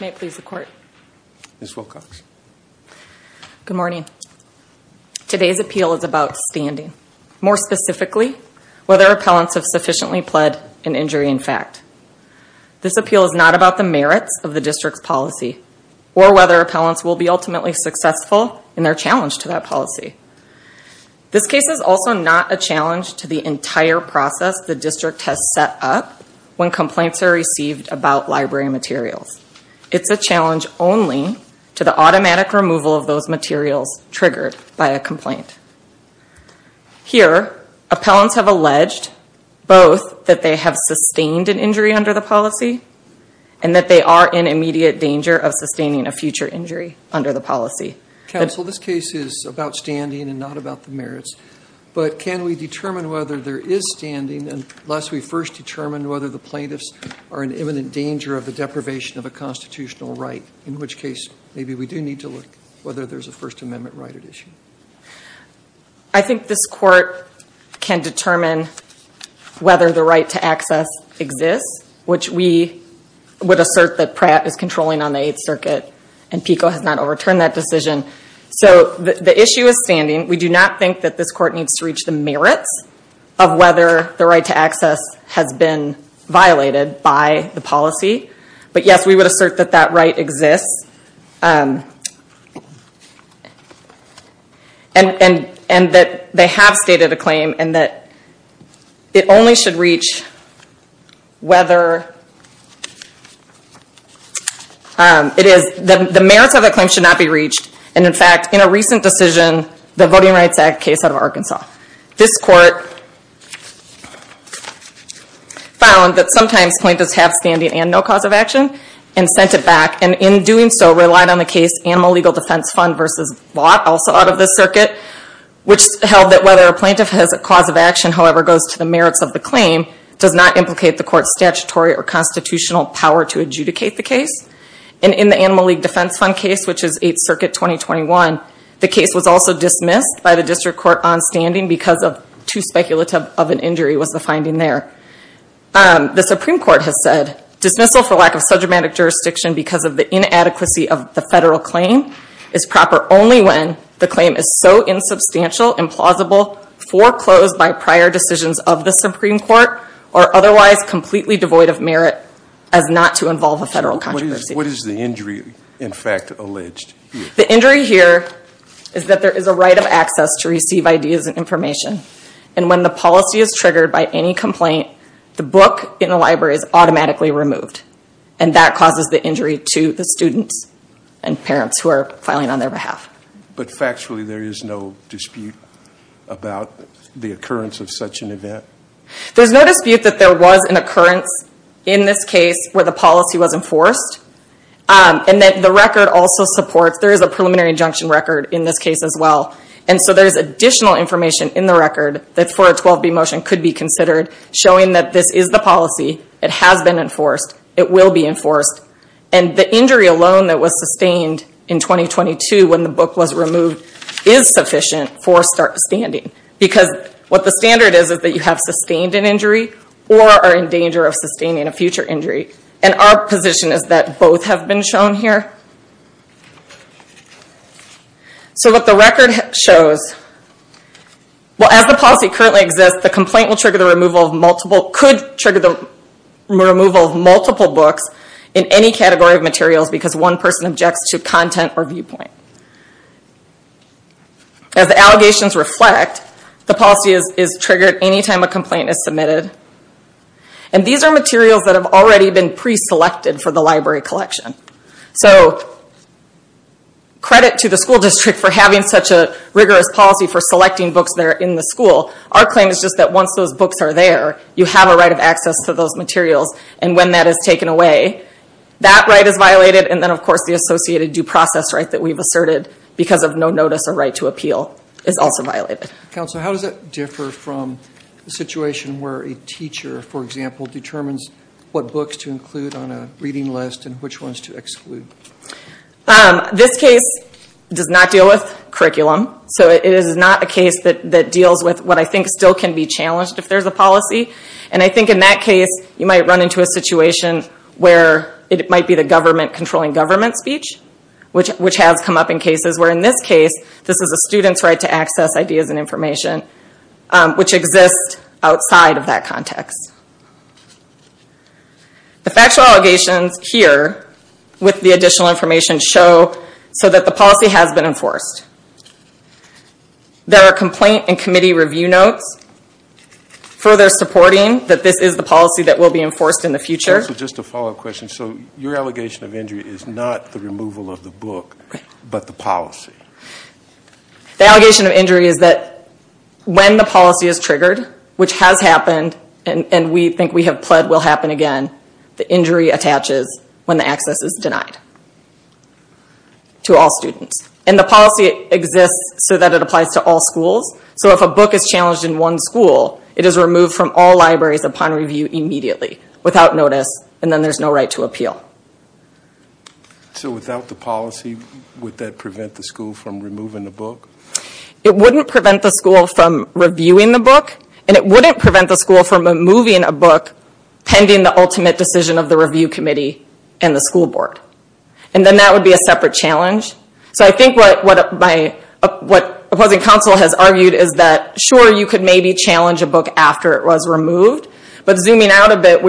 May it please the court. Ms. Wilcox. Good morning. Today's appeal is about standing. More specifically, whether appellants have sufficiently pled an injury in fact. This appeal is not about the merits of the district's policy or whether appellants will be ultimately successful in their challenge to that policy. This case is also not a challenge to the entire process the district has set up when complaints are received about library materials. It's a challenge only to the automatic removal of those materials triggered by a complaint. Here appellants have alleged both that they have sustained an injury under the policy and that they are in immediate danger of sustaining a future injury under the policy. Counsel, this case is about standing and not about the merits, but can we determine whether there is standing unless we first determine whether the plaintiffs are in imminent danger of the deprivation of a constitutional right, in which case maybe we do need to look whether there's a First Amendment right at issue. I think this court can determine whether the right to access exists, which we would assert that Pratt is controlling on the Eighth Circuit and PICO has not overturned that decision. So the issue is standing. We do not think that this court needs to reach the merits of whether the right to access has been violated by the policy, but yes, we would assert that that right exists and that they have stated a claim and that it only should reach whether it is, the merits of that claim should not be reached. In fact, in a recent decision, the Voting Rights Act case out of Arkansas, this court found that sometimes plaintiffs have standing and no cause of action and sent it back and in doing so relied on the case Animal Legal Defense Fund v. Lott, also out of this circuit, which held that whether a plaintiff has a cause of action, however, goes to the merits of the claim does not implicate the court's statutory or constitutional power to adjudicate the case. And in the Animal Legal Defense Fund case, which is Eighth Circuit 2021, the case was also dismissed by the district court on standing because of too speculative of an injury was the finding there. The Supreme Court has said dismissal for lack of sub-dramatic jurisdiction because of the inadequacy of the federal claim is proper only when the claim is so insubstantial, implausible, foreclosed by prior decisions of the Supreme Court or otherwise completely devoid of merit as not to involve a federal controversy. What is the injury in fact alleged? The injury here is that there is a right of access to receive ideas and information. And when the policy is triggered by any complaint, the book in the library is automatically removed. And that causes the injury to the students and parents who are filing on their behalf. But factually, there is no dispute about the occurrence of such an event? There's no dispute that there was an occurrence in this case where the policy was enforced. And that the record also supports there is a preliminary injunction record in this case as well. And so there's additional information in the record that for a 12B motion could be considered showing that this is the policy. It has been enforced. It will be enforced. And the injury alone that was sustained in 2022 when the book was removed is sufficient for standing. Because what the standard is, is that you have sustained an injury or are in danger of sustaining a future injury. And our position is that both have been shown here. So what the record shows, well as the policy currently exists, the complaint could trigger the removal of multiple books in any category of materials because one person objects to it, the allegations reflect, the policy is triggered any time a complaint is submitted. And these are materials that have already been pre-selected for the library collection. So credit to the school district for having such a rigorous policy for selecting books that are in the school. Our claim is just that once those books are there, you have a right of access to those materials. And when that is taken away, that right is violated and then of course the associated due process right that we've asserted because of no notice of right to appeal is also violated. Counsel, how does that differ from the situation where a teacher, for example, determines what books to include on a reading list and which ones to exclude? This case does not deal with curriculum. So it is not a case that deals with what I think still can be challenged if there's a policy. And I think in that case, you might run into a situation where it might be the government controlling government speech, which has come up in cases where in this case, this is a student's right to access ideas and information, which exists outside of that context. The factual allegations here with the additional information show so that the policy has been enforced. There are complaint and committee review notes further supporting that this is the policy that will be enforced in the future. Counsel, just a follow-up question. So your allegation of injury is not the removal of the book, but the policy? The allegation of injury is that when the policy is triggered, which has happened and we think we have pled will happen again, the injury attaches when the access is denied to all students. And the policy exists so that it applies to all schools. So if a book is challenged in one school, it is removed from all libraries upon review immediately So without the policy, would that prevent the school from removing the book? It wouldn't prevent the school from reviewing the book, and it wouldn't prevent the school from removing a book pending the ultimate decision of the review committee and the school board. And then that would be a separate challenge. So I think what opposing counsel has argued is that sure, you could maybe challenge a book after it was removed, but zooming out a bit,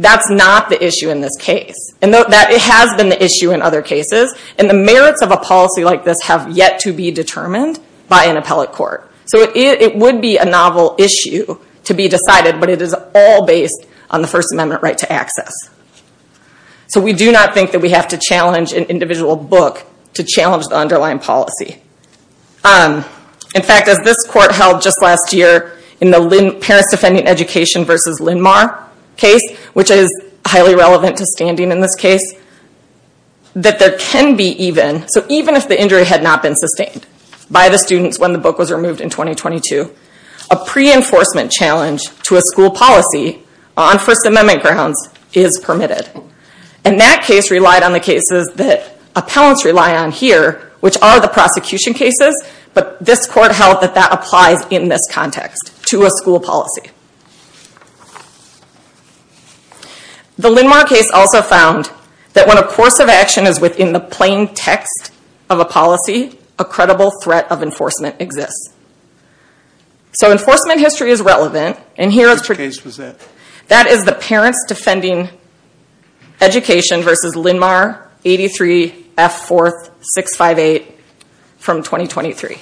that's not the issue in this case. And it has been the issue in other cases, and the merits of a policy like this have yet to be determined by an appellate court. So it would be a novel issue to be decided, but it is all based on the First Amendment right to access. So we do not think that we have to challenge an individual book to challenge the underlying policy. In fact, as this court held just last year in the Parents Defending Education v. Linmar case, which is highly relevant to standing in this case, that there can be even, so even if the injury had not been sustained by the students when the book was removed in 2022, a pre-enforcement challenge to a school policy on First Amendment grounds is permitted. And that case relied on the cases that appellants rely on here, which are the prosecution cases, but this court held that that applies in this context to a school policy. The Linmar case also found that when a course of action is within the plain text of a policy, a credible threat of enforcement exists. So enforcement history is relevant, and here is the case, that is the Parents Defending Education v. Linmar 83 F. 4th 658 from 2023.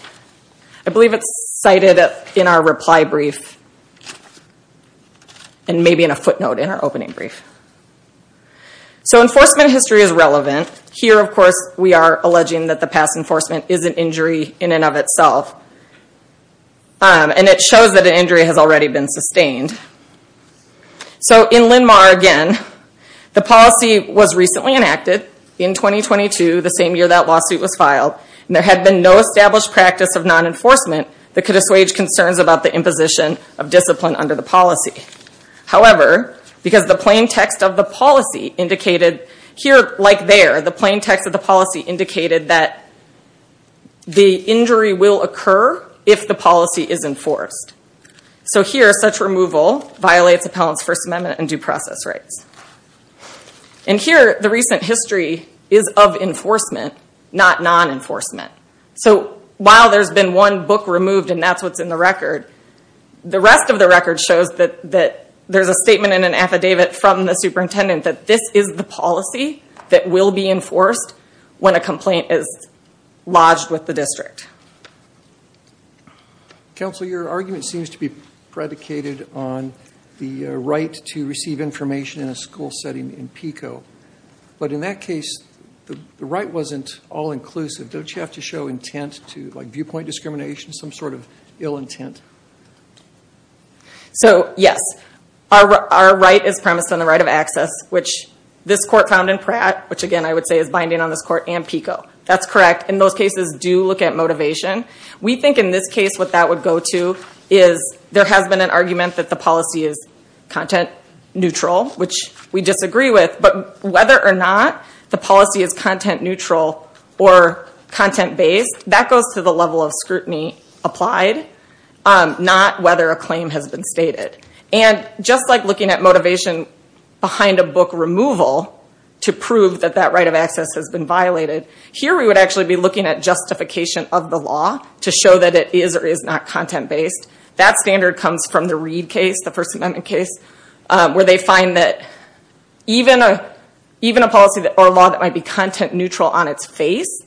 I believe it is cited in our reply brief and maybe in a footnote in our opening brief. So enforcement history is relevant. Here, of course, we are alleging that the past enforcement is an injury in and of itself, and it shows that an injury has already been sustained. So in Linmar, again, the policy was recently enacted in 2022, the same year that lawsuit was filed, and there had been no established practice of non-enforcement that could assuage concerns about the imposition of discipline under the policy. However, because the plain text of the policy indicated here, like there, the injury will occur if the policy is enforced. So here, such removal violates Appellant's First Amendment and due process rights. And here, the recent history is of enforcement, not non-enforcement. So while there's been one book removed, and that's what's in the record, the rest of the record shows that there's a statement in an affidavit from the superintendent that this is the policy that will be enforced when a complaint is lodged with the district. Counsel, your argument seems to be predicated on the right to receive information in a school setting in PICO. But in that case, the right wasn't all-inclusive. Don't you have to show intent to viewpoint discrimination, some sort of ill intent? So yes, our right is premised on the right of access, which this court found in Pratt, which again, I would say is binding on this court, and PICO. That's correct. In those cases, do look at motivation. We think in this case, what that would go to is there has been an argument that the policy is content-neutral, which we disagree with. But whether or not the policy is content-neutral or content-based, that goes to the level of scrutiny applied, not whether a claim has been stated. And just like looking at motivation behind a book removal to prove that that right of access has been violated, here we would actually be looking at justification of the law to show that it is or is not content-based. That standard comes from the Reed case, the First Amendment case, where they find that even a policy or law that might be content-neutral on its face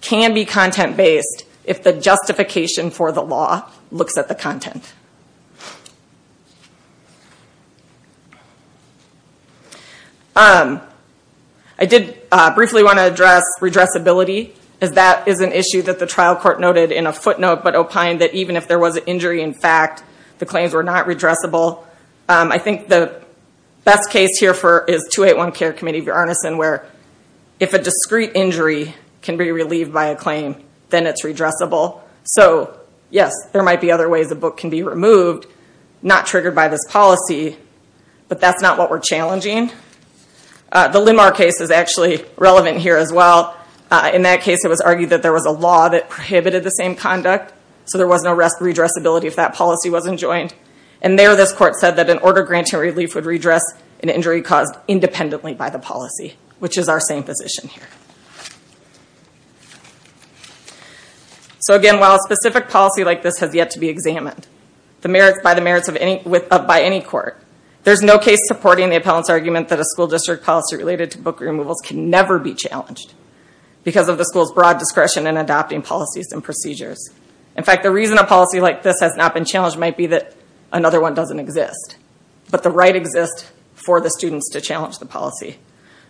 can be content-based if the justification I did briefly want to address redressability. That is an issue that the trial court noted in a footnote, but opined that even if there was an injury, in fact, the claims were not redressable. I think the best case here is 281 Care Committee v. Arneson, where if a discrete injury can be relieved by a claim, then it's redressable. So yes, there might be other ways a book can be removed, not triggered by this policy, but that's not what we're challenging. The Limar case is actually relevant here as well. In that case, it was argued that there was a law that prohibited the same conduct, so there was no redressability if that policy wasn't joined. And there, this court said that an order granting relief would redress an injury caused independently by the policy, which is our same position here. So, again, while a specific policy like this has yet to be examined by any court, there's no case supporting the appellant's argument that a school district policy related to book removals can never be challenged because of the school's broad discretion in adopting policies and procedures. In fact, the reason a policy like this has not been challenged might be that another one doesn't exist, but the right exists for the students to challenge the policy.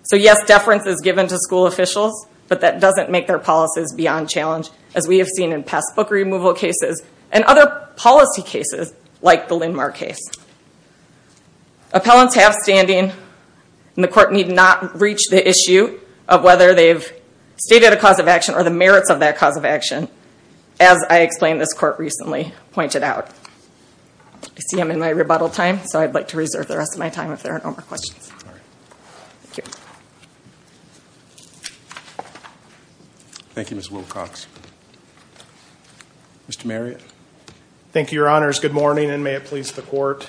So yes, deference is given to school officials, but that doesn't make their policies beyond challenge, as we have seen in past book removal cases and other policy cases like the Limar case. Appellants have standing, and the court need not reach the issue of whether they've stated a cause of action or the merits of that cause of action, as I explained this court recently pointed out. I see I'm in my rebuttal time, so I'd like to reserve the rest of my time if there are no more questions. Thank you, Ms. Wilcox. Mr. Marriott. Thank you, Your Honors. Good morning, and may it please the court.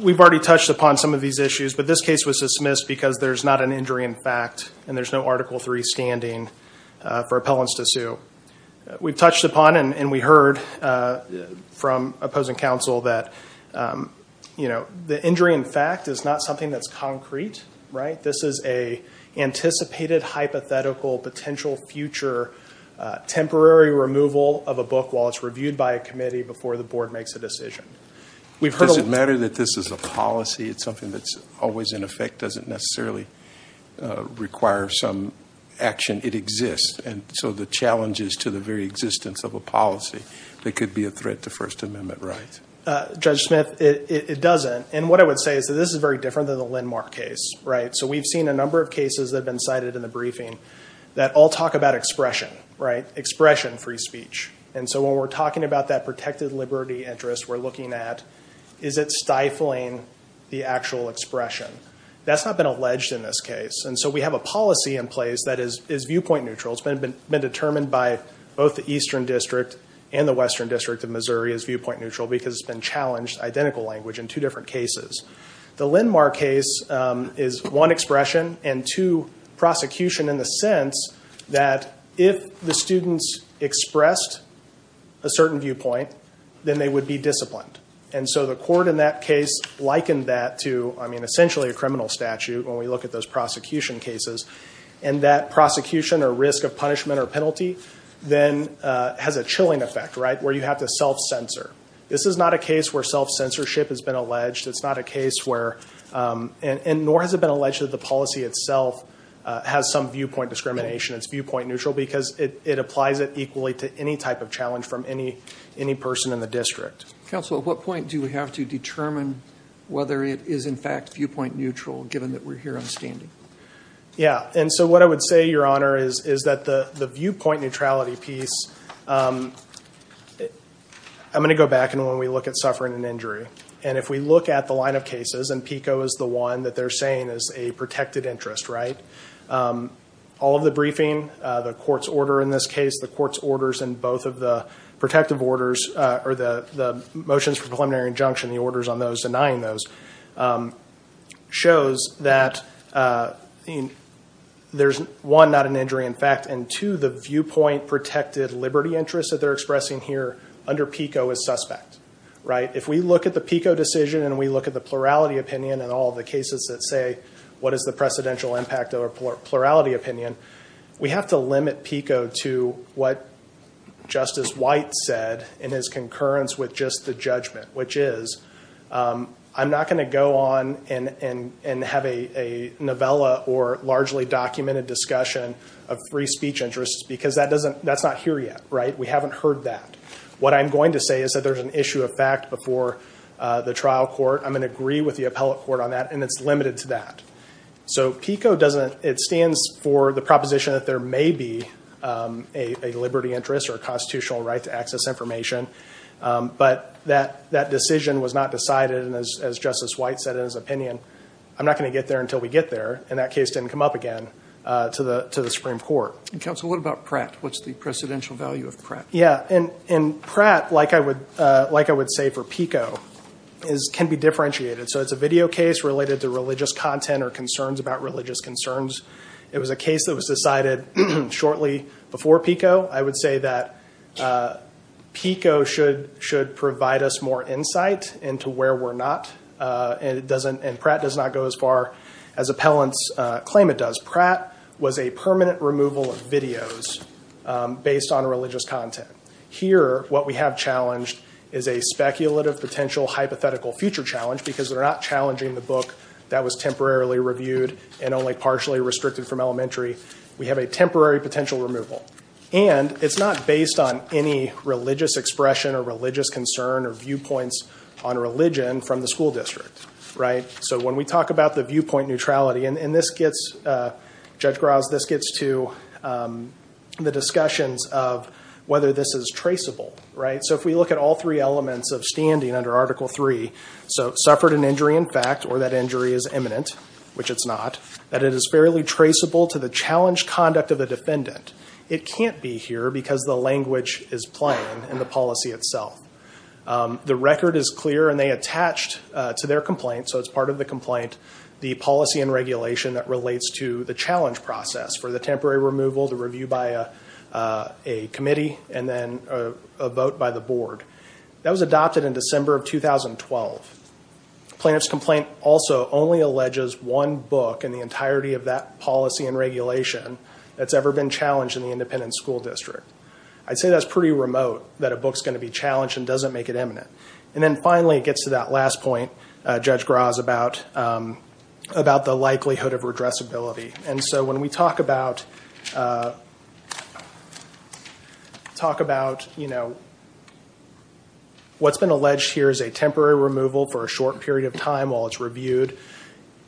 We've already touched upon some of these issues, but this case was dismissed because there's not an injury in fact, and there's no Article III standing for appellants to sue. We've touched upon and we heard from opposing counsel that, you know, the injury in fact is not something that's concrete, right? This is a anticipated hypothetical potential future temporary removal of a book while it's reviewed by a committee before the board makes a decision. Does it matter that this is a policy? It's something that's always in effect, doesn't necessarily require some action. It exists, and so the challenges to the very existence of a policy that could be a threat to First Amendment rights. Judge Smith, it doesn't, and what I would say is that this is very different than the Lindmark case, right? So we've seen a number of cases that have been cited in the briefing that all talk about expression, right? Expression, free speech. And so when we're talking about that protected liberty interest we're looking at, is it stifling the actual expression? That's not been alleged in this case, and so we have a policy in place that is viewpoint neutral. It's been determined by both the Eastern District and the Western District of Missouri as viewpoint neutral because it's been challenged, identical language in two different cases. The Lindmark case is one, expression, and two, prosecution in the sense that if the students expressed a certain viewpoint then they would be disciplined. And so the court in that case likened that to, I mean, essentially a criminal statute when we look at those prosecution cases. And that prosecution or risk of punishment or penalty then has a chilling effect, right, where you have to self-censor. This is not a case where self-censorship has been alleged. It's not a case where, and nor has it been alleged that the policy itself has some viewpoint discrimination. It's viewpoint neutral because it applies it equally to any type of challenge from any person in the district. Counsel, at what point do we have to determine whether it is in fact viewpoint neutral given that we're here on standing? Yeah. And so what I would say, Your Honor, is that the viewpoint neutrality piece, I'm going to go back and when we look at suffering an injury, and if we look at the line of cases, and PICO is the one that they're saying is a protected interest, right, all of the briefing, the court's order in this case, the court's orders in both of the protective orders, or the motions for preliminary injunction, the orders on those denying those, shows that there's, one, not an injury in fact, and two, the viewpoint protected liberty interest that they're expressing here under PICO is suspect, right? If we look at the PICO decision and we look at the plurality opinion and all the cases that say what is the precedential impact or plurality opinion, we have to limit PICO to what Justice White said in his concurrence with just the judgment, which is, I'm not going to go on and have a novella or largely documented discussion of free speech interests because that's not here yet, right? We haven't heard that. What I'm going to say is that there's an issue of fact before the trial court. I'm going to agree with the appellate court on that, and it's limited to that. So PICO doesn't, it stands for the proposition that there may be a liberty interest or a constitutional right to access information, but that decision was not decided and as Justice White said in his opinion, I'm not going to get there until we get there, and that case didn't come up again to the Supreme Court. And counsel, what about Pratt? What's the precedential value of Pratt? Yeah, and Pratt, like I would say for PICO, can be differentiated. So it's a video case related to religious content or concerns about religious concerns. It was a case that was decided shortly before PICO. I would say that PICO should provide us more insight into where we're not, and Pratt does not go as far as appellants claim it does. Pratt was a permanent removal of videos based on religious content. Here, what we have challenged is a speculative potential hypothetical future challenge, because they're not challenging the book that was temporarily reviewed and only partially restricted from elementary. We have a temporary potential removal. And it's not based on any religious expression or religious concern or viewpoints on religion from the school district. So when we talk about the viewpoint neutrality, and this gets, Judge Grouse, this gets to the discussions of whether this is traceable, right? So if we look at all three elements of standing under Article III, so suffered an injury in fact, or that injury is imminent, which it's not, that it is fairly traceable to the challenge conduct of the defendant. It can't be here because the language is plain in the policy itself. The record is clear, and they attached to their complaint, so it's part of the complaint, the policy and regulation that relates to the challenge process for the temporary removal, the review by a committee, and then a vote by the board. That was adopted in December of 2012. Plaintiff's complaint also only alleges one book in the entirety of that policy and regulation that's ever been challenged in the independent school district. I'd say that's pretty remote, that a book's going to be challenged and doesn't make it imminent. And then finally, it gets to that last point, Judge Grouse, about the likelihood of redressability. And so when we talk about what's been alleged here is a temporary removal for a short period of time while it's reviewed,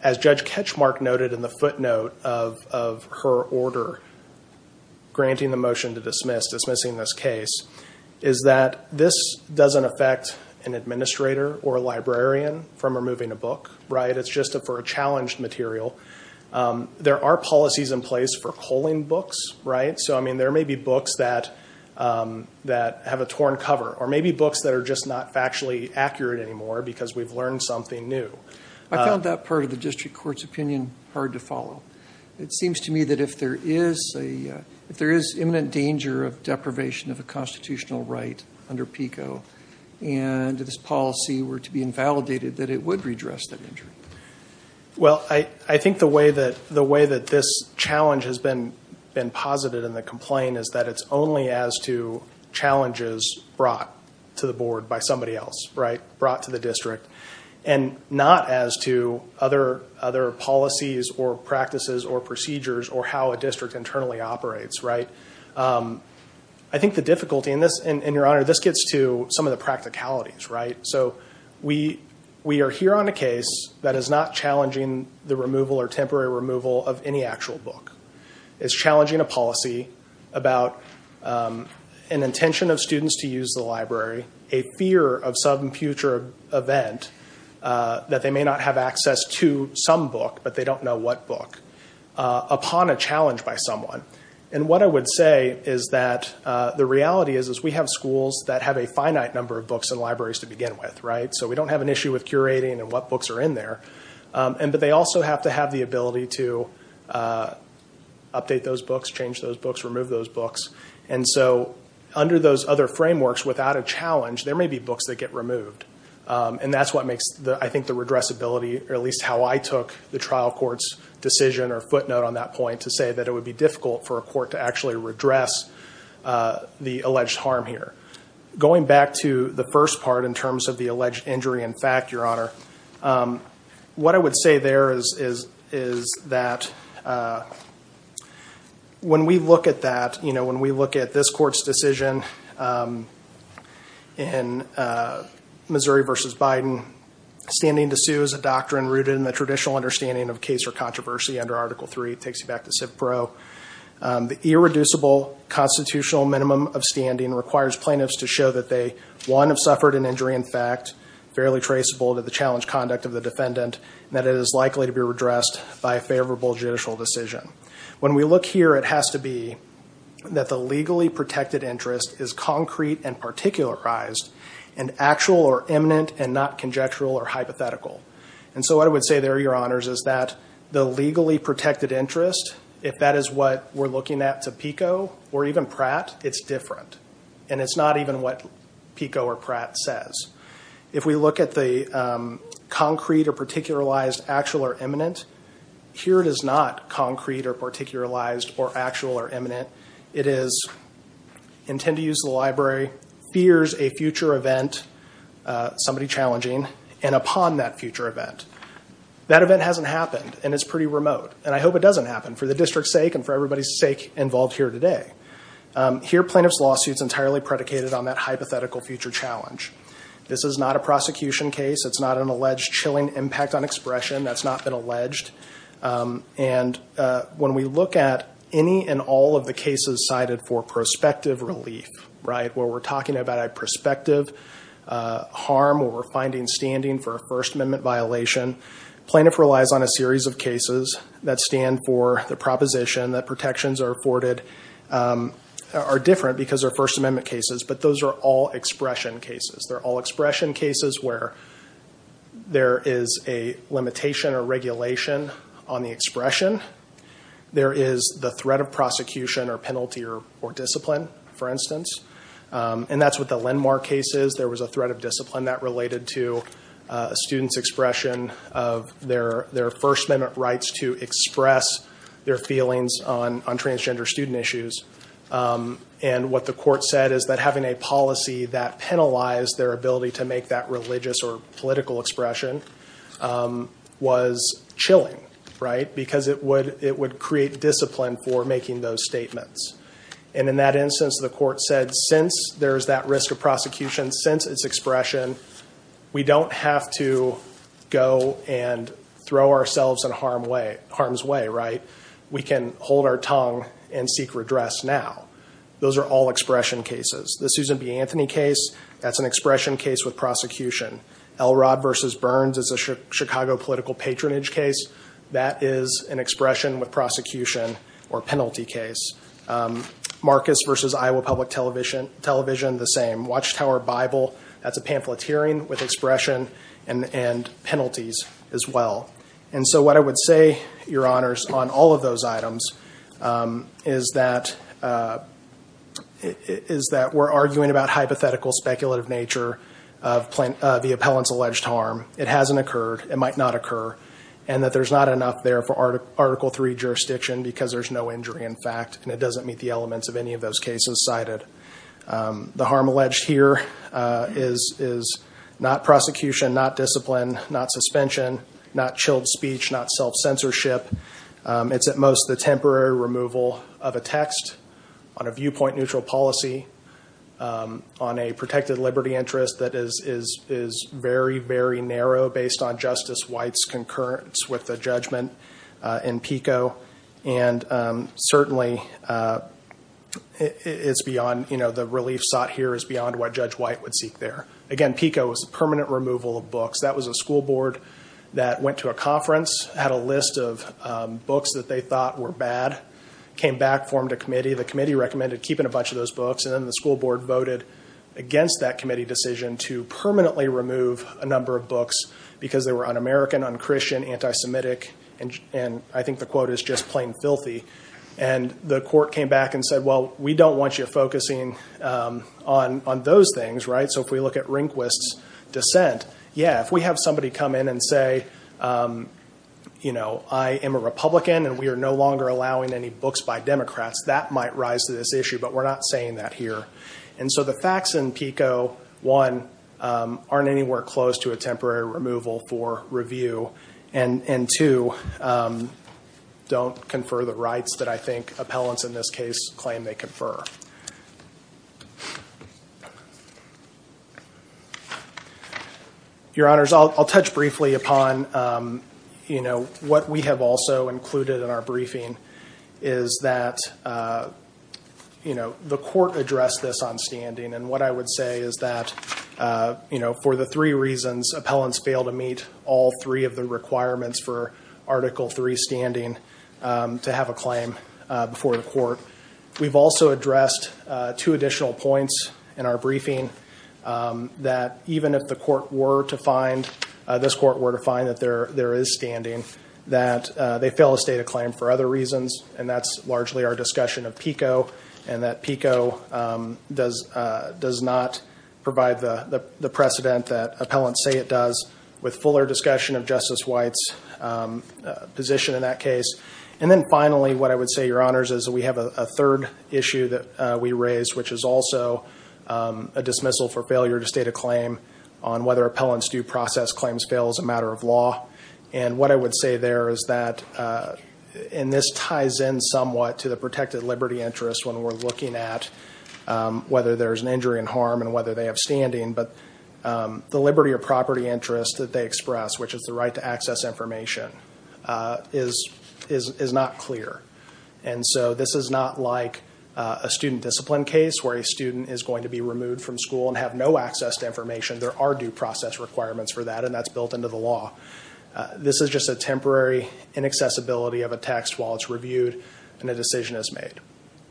as Judge Ketchmark noted in the footnote of her order granting the motion to dismiss, dismissing this case, is that this doesn't affect an administrator or a librarian from removing a book, right? It's just for a challenged material. There are policies in place for culling books, right? So I mean, there may be books that have a torn cover, or maybe books that are just not factually accurate anymore because we've learned something new. I found that part of the district court's opinion hard to follow. It seems to me that if there is imminent danger of deprivation of a constitutional right under PICO and this policy were to be invalidated, that it would redress that injury. Well, I think the way that this challenge has been posited in the complaint is that it's only as to challenges brought to the board by somebody else, right? Brought to the district, and not as to other policies or practices or procedures or how a district internally operates, right? I think the difficulty in this, and your Honor, this gets to some of the practicalities, right? So we are here on a case that is not challenging the removal or temporary removal of any actual book. It's challenging a policy about an intention of event that they may not have access to some book, but they don't know what book, upon a challenge by someone. And what I would say is that the reality is we have schools that have a finite number of books and libraries to begin with, right? So we don't have an issue with curating and what books are in there. But they also have to have the ability to update those books, change those books, remove those books. And so under those other And that's what makes, I think, the redressability, or at least how I took the trial court's decision or footnote on that point, to say that it would be difficult for a court to actually redress the alleged harm here. Going back to the first part in terms of the alleged injury in fact, your Honor, what I would say there is that when we look at that, you know, in Missouri v. Biden, standing to sue is a doctrine rooted in the traditional understanding of case or controversy under Article III. It takes you back to Civ Pro. The irreducible constitutional minimum of standing requires plaintiffs to show that they, one, have suffered an injury in fact, fairly traceable to the challenged conduct of the defendant, and that it is likely to be redressed by a favorable judicial decision. When we look here, it has to be that the legally protected interest is concrete and particularized, and actual or eminent and not conjectural or hypothetical. And so what I would say there, your Honors, is that the legally protected interest, if that is what we're looking at to PICO or even Pratt, it's different. And it's not even what PICO or Pratt says. If we look at the concrete or particularized, actual or eminent, here it is not concrete or particularized or actual or eminent. It is, intend to use the library, fears a future event, somebody challenging, and upon that future event. That event hasn't happened, and it's pretty remote. And I hope it doesn't happen, for the district's sake and for everybody's sake involved here today. Here, plaintiff's lawsuit is entirely predicated on that hypothetical future challenge. This is not a prosecution case. It's not an alleged chilling impact on expression. That's when we look at any and all of the cases cited for prospective relief, where we're talking about a prospective harm or we're finding standing for a First Amendment violation. Plaintiff relies on a series of cases that stand for the proposition that protections are afforded are different because they're First Amendment cases, but those are all expression cases. They're all expression cases where there is a limitation or regulation on the there is the threat of prosecution or penalty or discipline, for instance. And that's what the Lenmar case is. There was a threat of discipline that related to a student's expression of their First Amendment rights to express their feelings on transgender student issues. And what the court said is that having a policy that penalized their ability to make that discipline for making those statements. And in that instance, the court said, since there's that risk of prosecution, since it's expression, we don't have to go and throw ourselves in harm's way. We can hold our tongue and seek redress now. Those are all expression cases. The Susan B. Anthony case, that's an expression case with prosecution. Elrod v. Burns is a Chicago political patronage case. That is an expression with prosecution or penalty case. Marcus v. Iowa Public Television, the same. Watchtower Bible, that's a pamphleteering with expression and penalties as well. And so what I would say, Your Honors, on all of those items is that we're arguing about hypothetical speculative nature of the appellant's alleged harm. It hasn't occurred. It might not occur. And that there's not enough there for Article 3 jurisdiction because there's no injury in fact and it doesn't meet the elements of any of those cases cited. The harm alleged here is not prosecution, not discipline, not suspension, not chilled speech, not self-censorship. It's at most the temporary removal of a text on viewpoint neutral policy on a protected liberty interest that is very, very narrow based on Justice White's concurrence with the judgment in PICO. And certainly it's beyond, you know, the relief sought here is beyond what Judge White would seek there. Again, PICO is permanent removal of books. That was a school board that went to a conference, had a list of books that they thought were bad, came back, formed a committee. The committee recommended keeping a bunch of those books and then the school board voted against that committee decision to permanently remove a number of books because they were un-American, un-Christian, anti-Semitic, and I think the quote is just plain filthy. And the court came back and said, well, we don't want you focusing on those things, right? So if we look at Rehnquist's dissent, yeah, if we have somebody come in and say, you know, I am a Republican and we are no longer allowing any books by Democrats, that might rise to this issue, but we're not saying that here. And so the facts in PICO, one, aren't anywhere close to a temporary removal for review, and two, don't confer the rights that I think appellants in this case claim they have. I'll touch briefly upon, you know, what we have also included in our briefing is that, you know, the court addressed this on standing and what I would say is that, you know, for the three reasons appellants fail to meet all three of the requirements for Article III standing to have a claim before the court, we've also addressed two additional points in our briefing that even if the court were to find, this court were to find that there is standing, that they fail to state a claim for other reasons and that's largely our discussion of PICO and that PICO does not provide the precedent that appellants say it does with fuller discussion of Justice White's position in that case. And then finally, what I would say, your honors, is that we have a third issue that we raised, which is also a dismissal for failure to state a claim on whether appellants do process claims fail as a matter of law. And what I would say there is that, and this ties in somewhat to the protected liberty interest when we're looking at whether there's an injury and harm and whether they have standing, but the liberty of property interest that they express, which is the right to access information, is not clear. And so this is not like a student discipline case where a student is going to be removed from school and have no access to information. There are due process requirements for that and that's built into the law. This is just a temporary inaccessibility of a text while it's reviewed and a decision is made.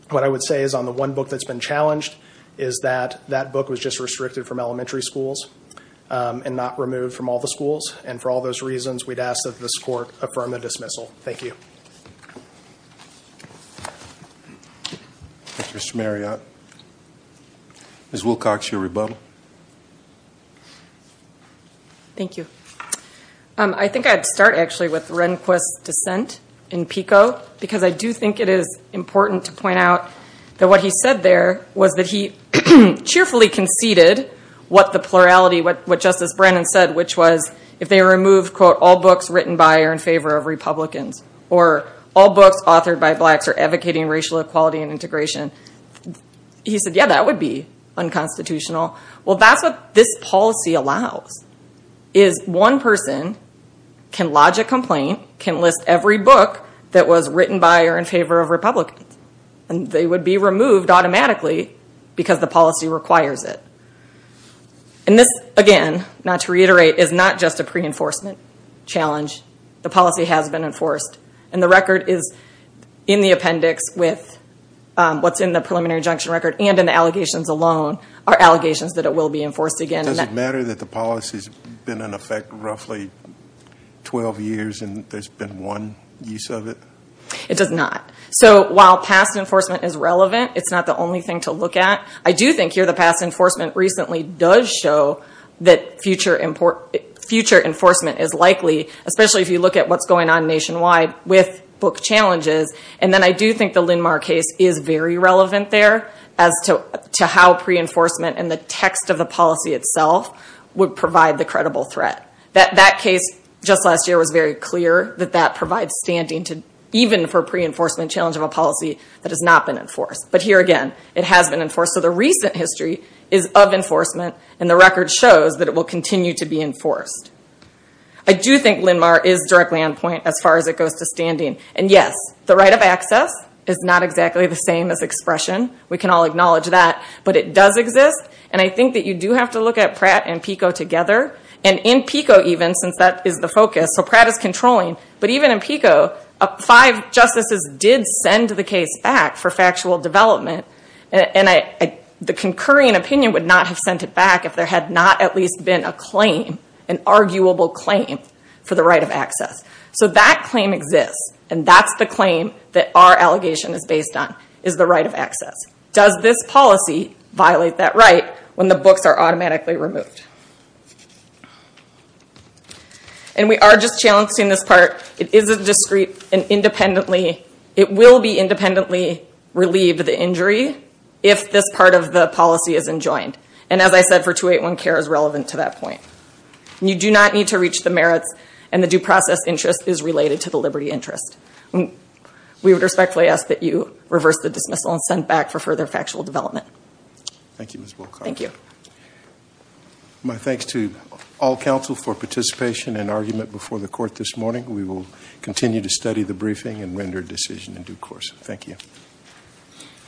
What I would say is on the one book that's been challenged is that that book was just restricted from elementary schools and not removed from all the schools. And for all those reasons, we'd ask that this court affirm the dismissal. Thank you. Mr. Marriott. Ms. Wilcox, your rebuttal. Thank you. I think I'd start actually with Rehnquist's dissent in PICO because I do think it is important to point out that what he said there was that he cheerfully conceded what the plurality, what Justice Brennan said, which was if they removed, quote, all books written by or in favor of Republicans or all books authored by blacks are advocating racial equality and integration. He said, yeah, that would be unconstitutional. Well, that's what this policy allows is one person can lodge a complaint, can list every book that was written by or in favor of Republicans, and they would be removed automatically because the policy requires it. And this, again, not to reiterate, is not just a pre-enforcement challenge. The policy has been enforced. And the record is in the appendix with what's in the preliminary injunction record and in the allegations alone are allegations that it will be enforced again. Does it matter that the policy's been in effect roughly 12 years and there's been one use of it? It does not. So while past enforcement is relevant, it's not the only thing to look at. I do think here the past enforcement recently does show that future enforcement is likely, especially if you look at what's going on nationwide with book challenges. And then I do think the Lindmar case is very relevant there as to how pre-enforcement and the text of the policy itself would provide the credible threat. That case just last year was very clear that that provides standing even for pre-enforcement challenge of a policy that has not been enforced. But here again, it has been enforced. So the recent history is of enforcement and the record shows that it will continue to be enforced. I do think Lindmar is directly on point as far as it goes to standing. And yes, the right of access is not exactly the same as expression. We can all acknowledge that. But it does exist. And I think that you do have to look at Pratt and Pico together. And in Pico even, since that is the focus, so Pratt is controlling. But even in Pico, five justices did send the case back for factual development. And the concurring opinion would not have sent it back if there had not at least been a claim, an arguable claim, for the right of access. So that claim exists. And that's the claim that our allegation is based on, is the right of access. Does this policy violate that right when the books are automatically removed? And we are just challenging this part. It is a discrete and independently, it will be independently relieved of the injury if this part of the policy is enjoined. And as I said for 281 care is relevant to that point. You do not need to reach the merits and the due process interest is related to the liberty interest. We would respectfully ask that you reverse the dismissal and send it back for further factual development. Thank you Ms. Wilcox. My thanks to all counsel for participation and argument before the court this morning. We will continue to study the briefing and render a decision in due course. Thank you.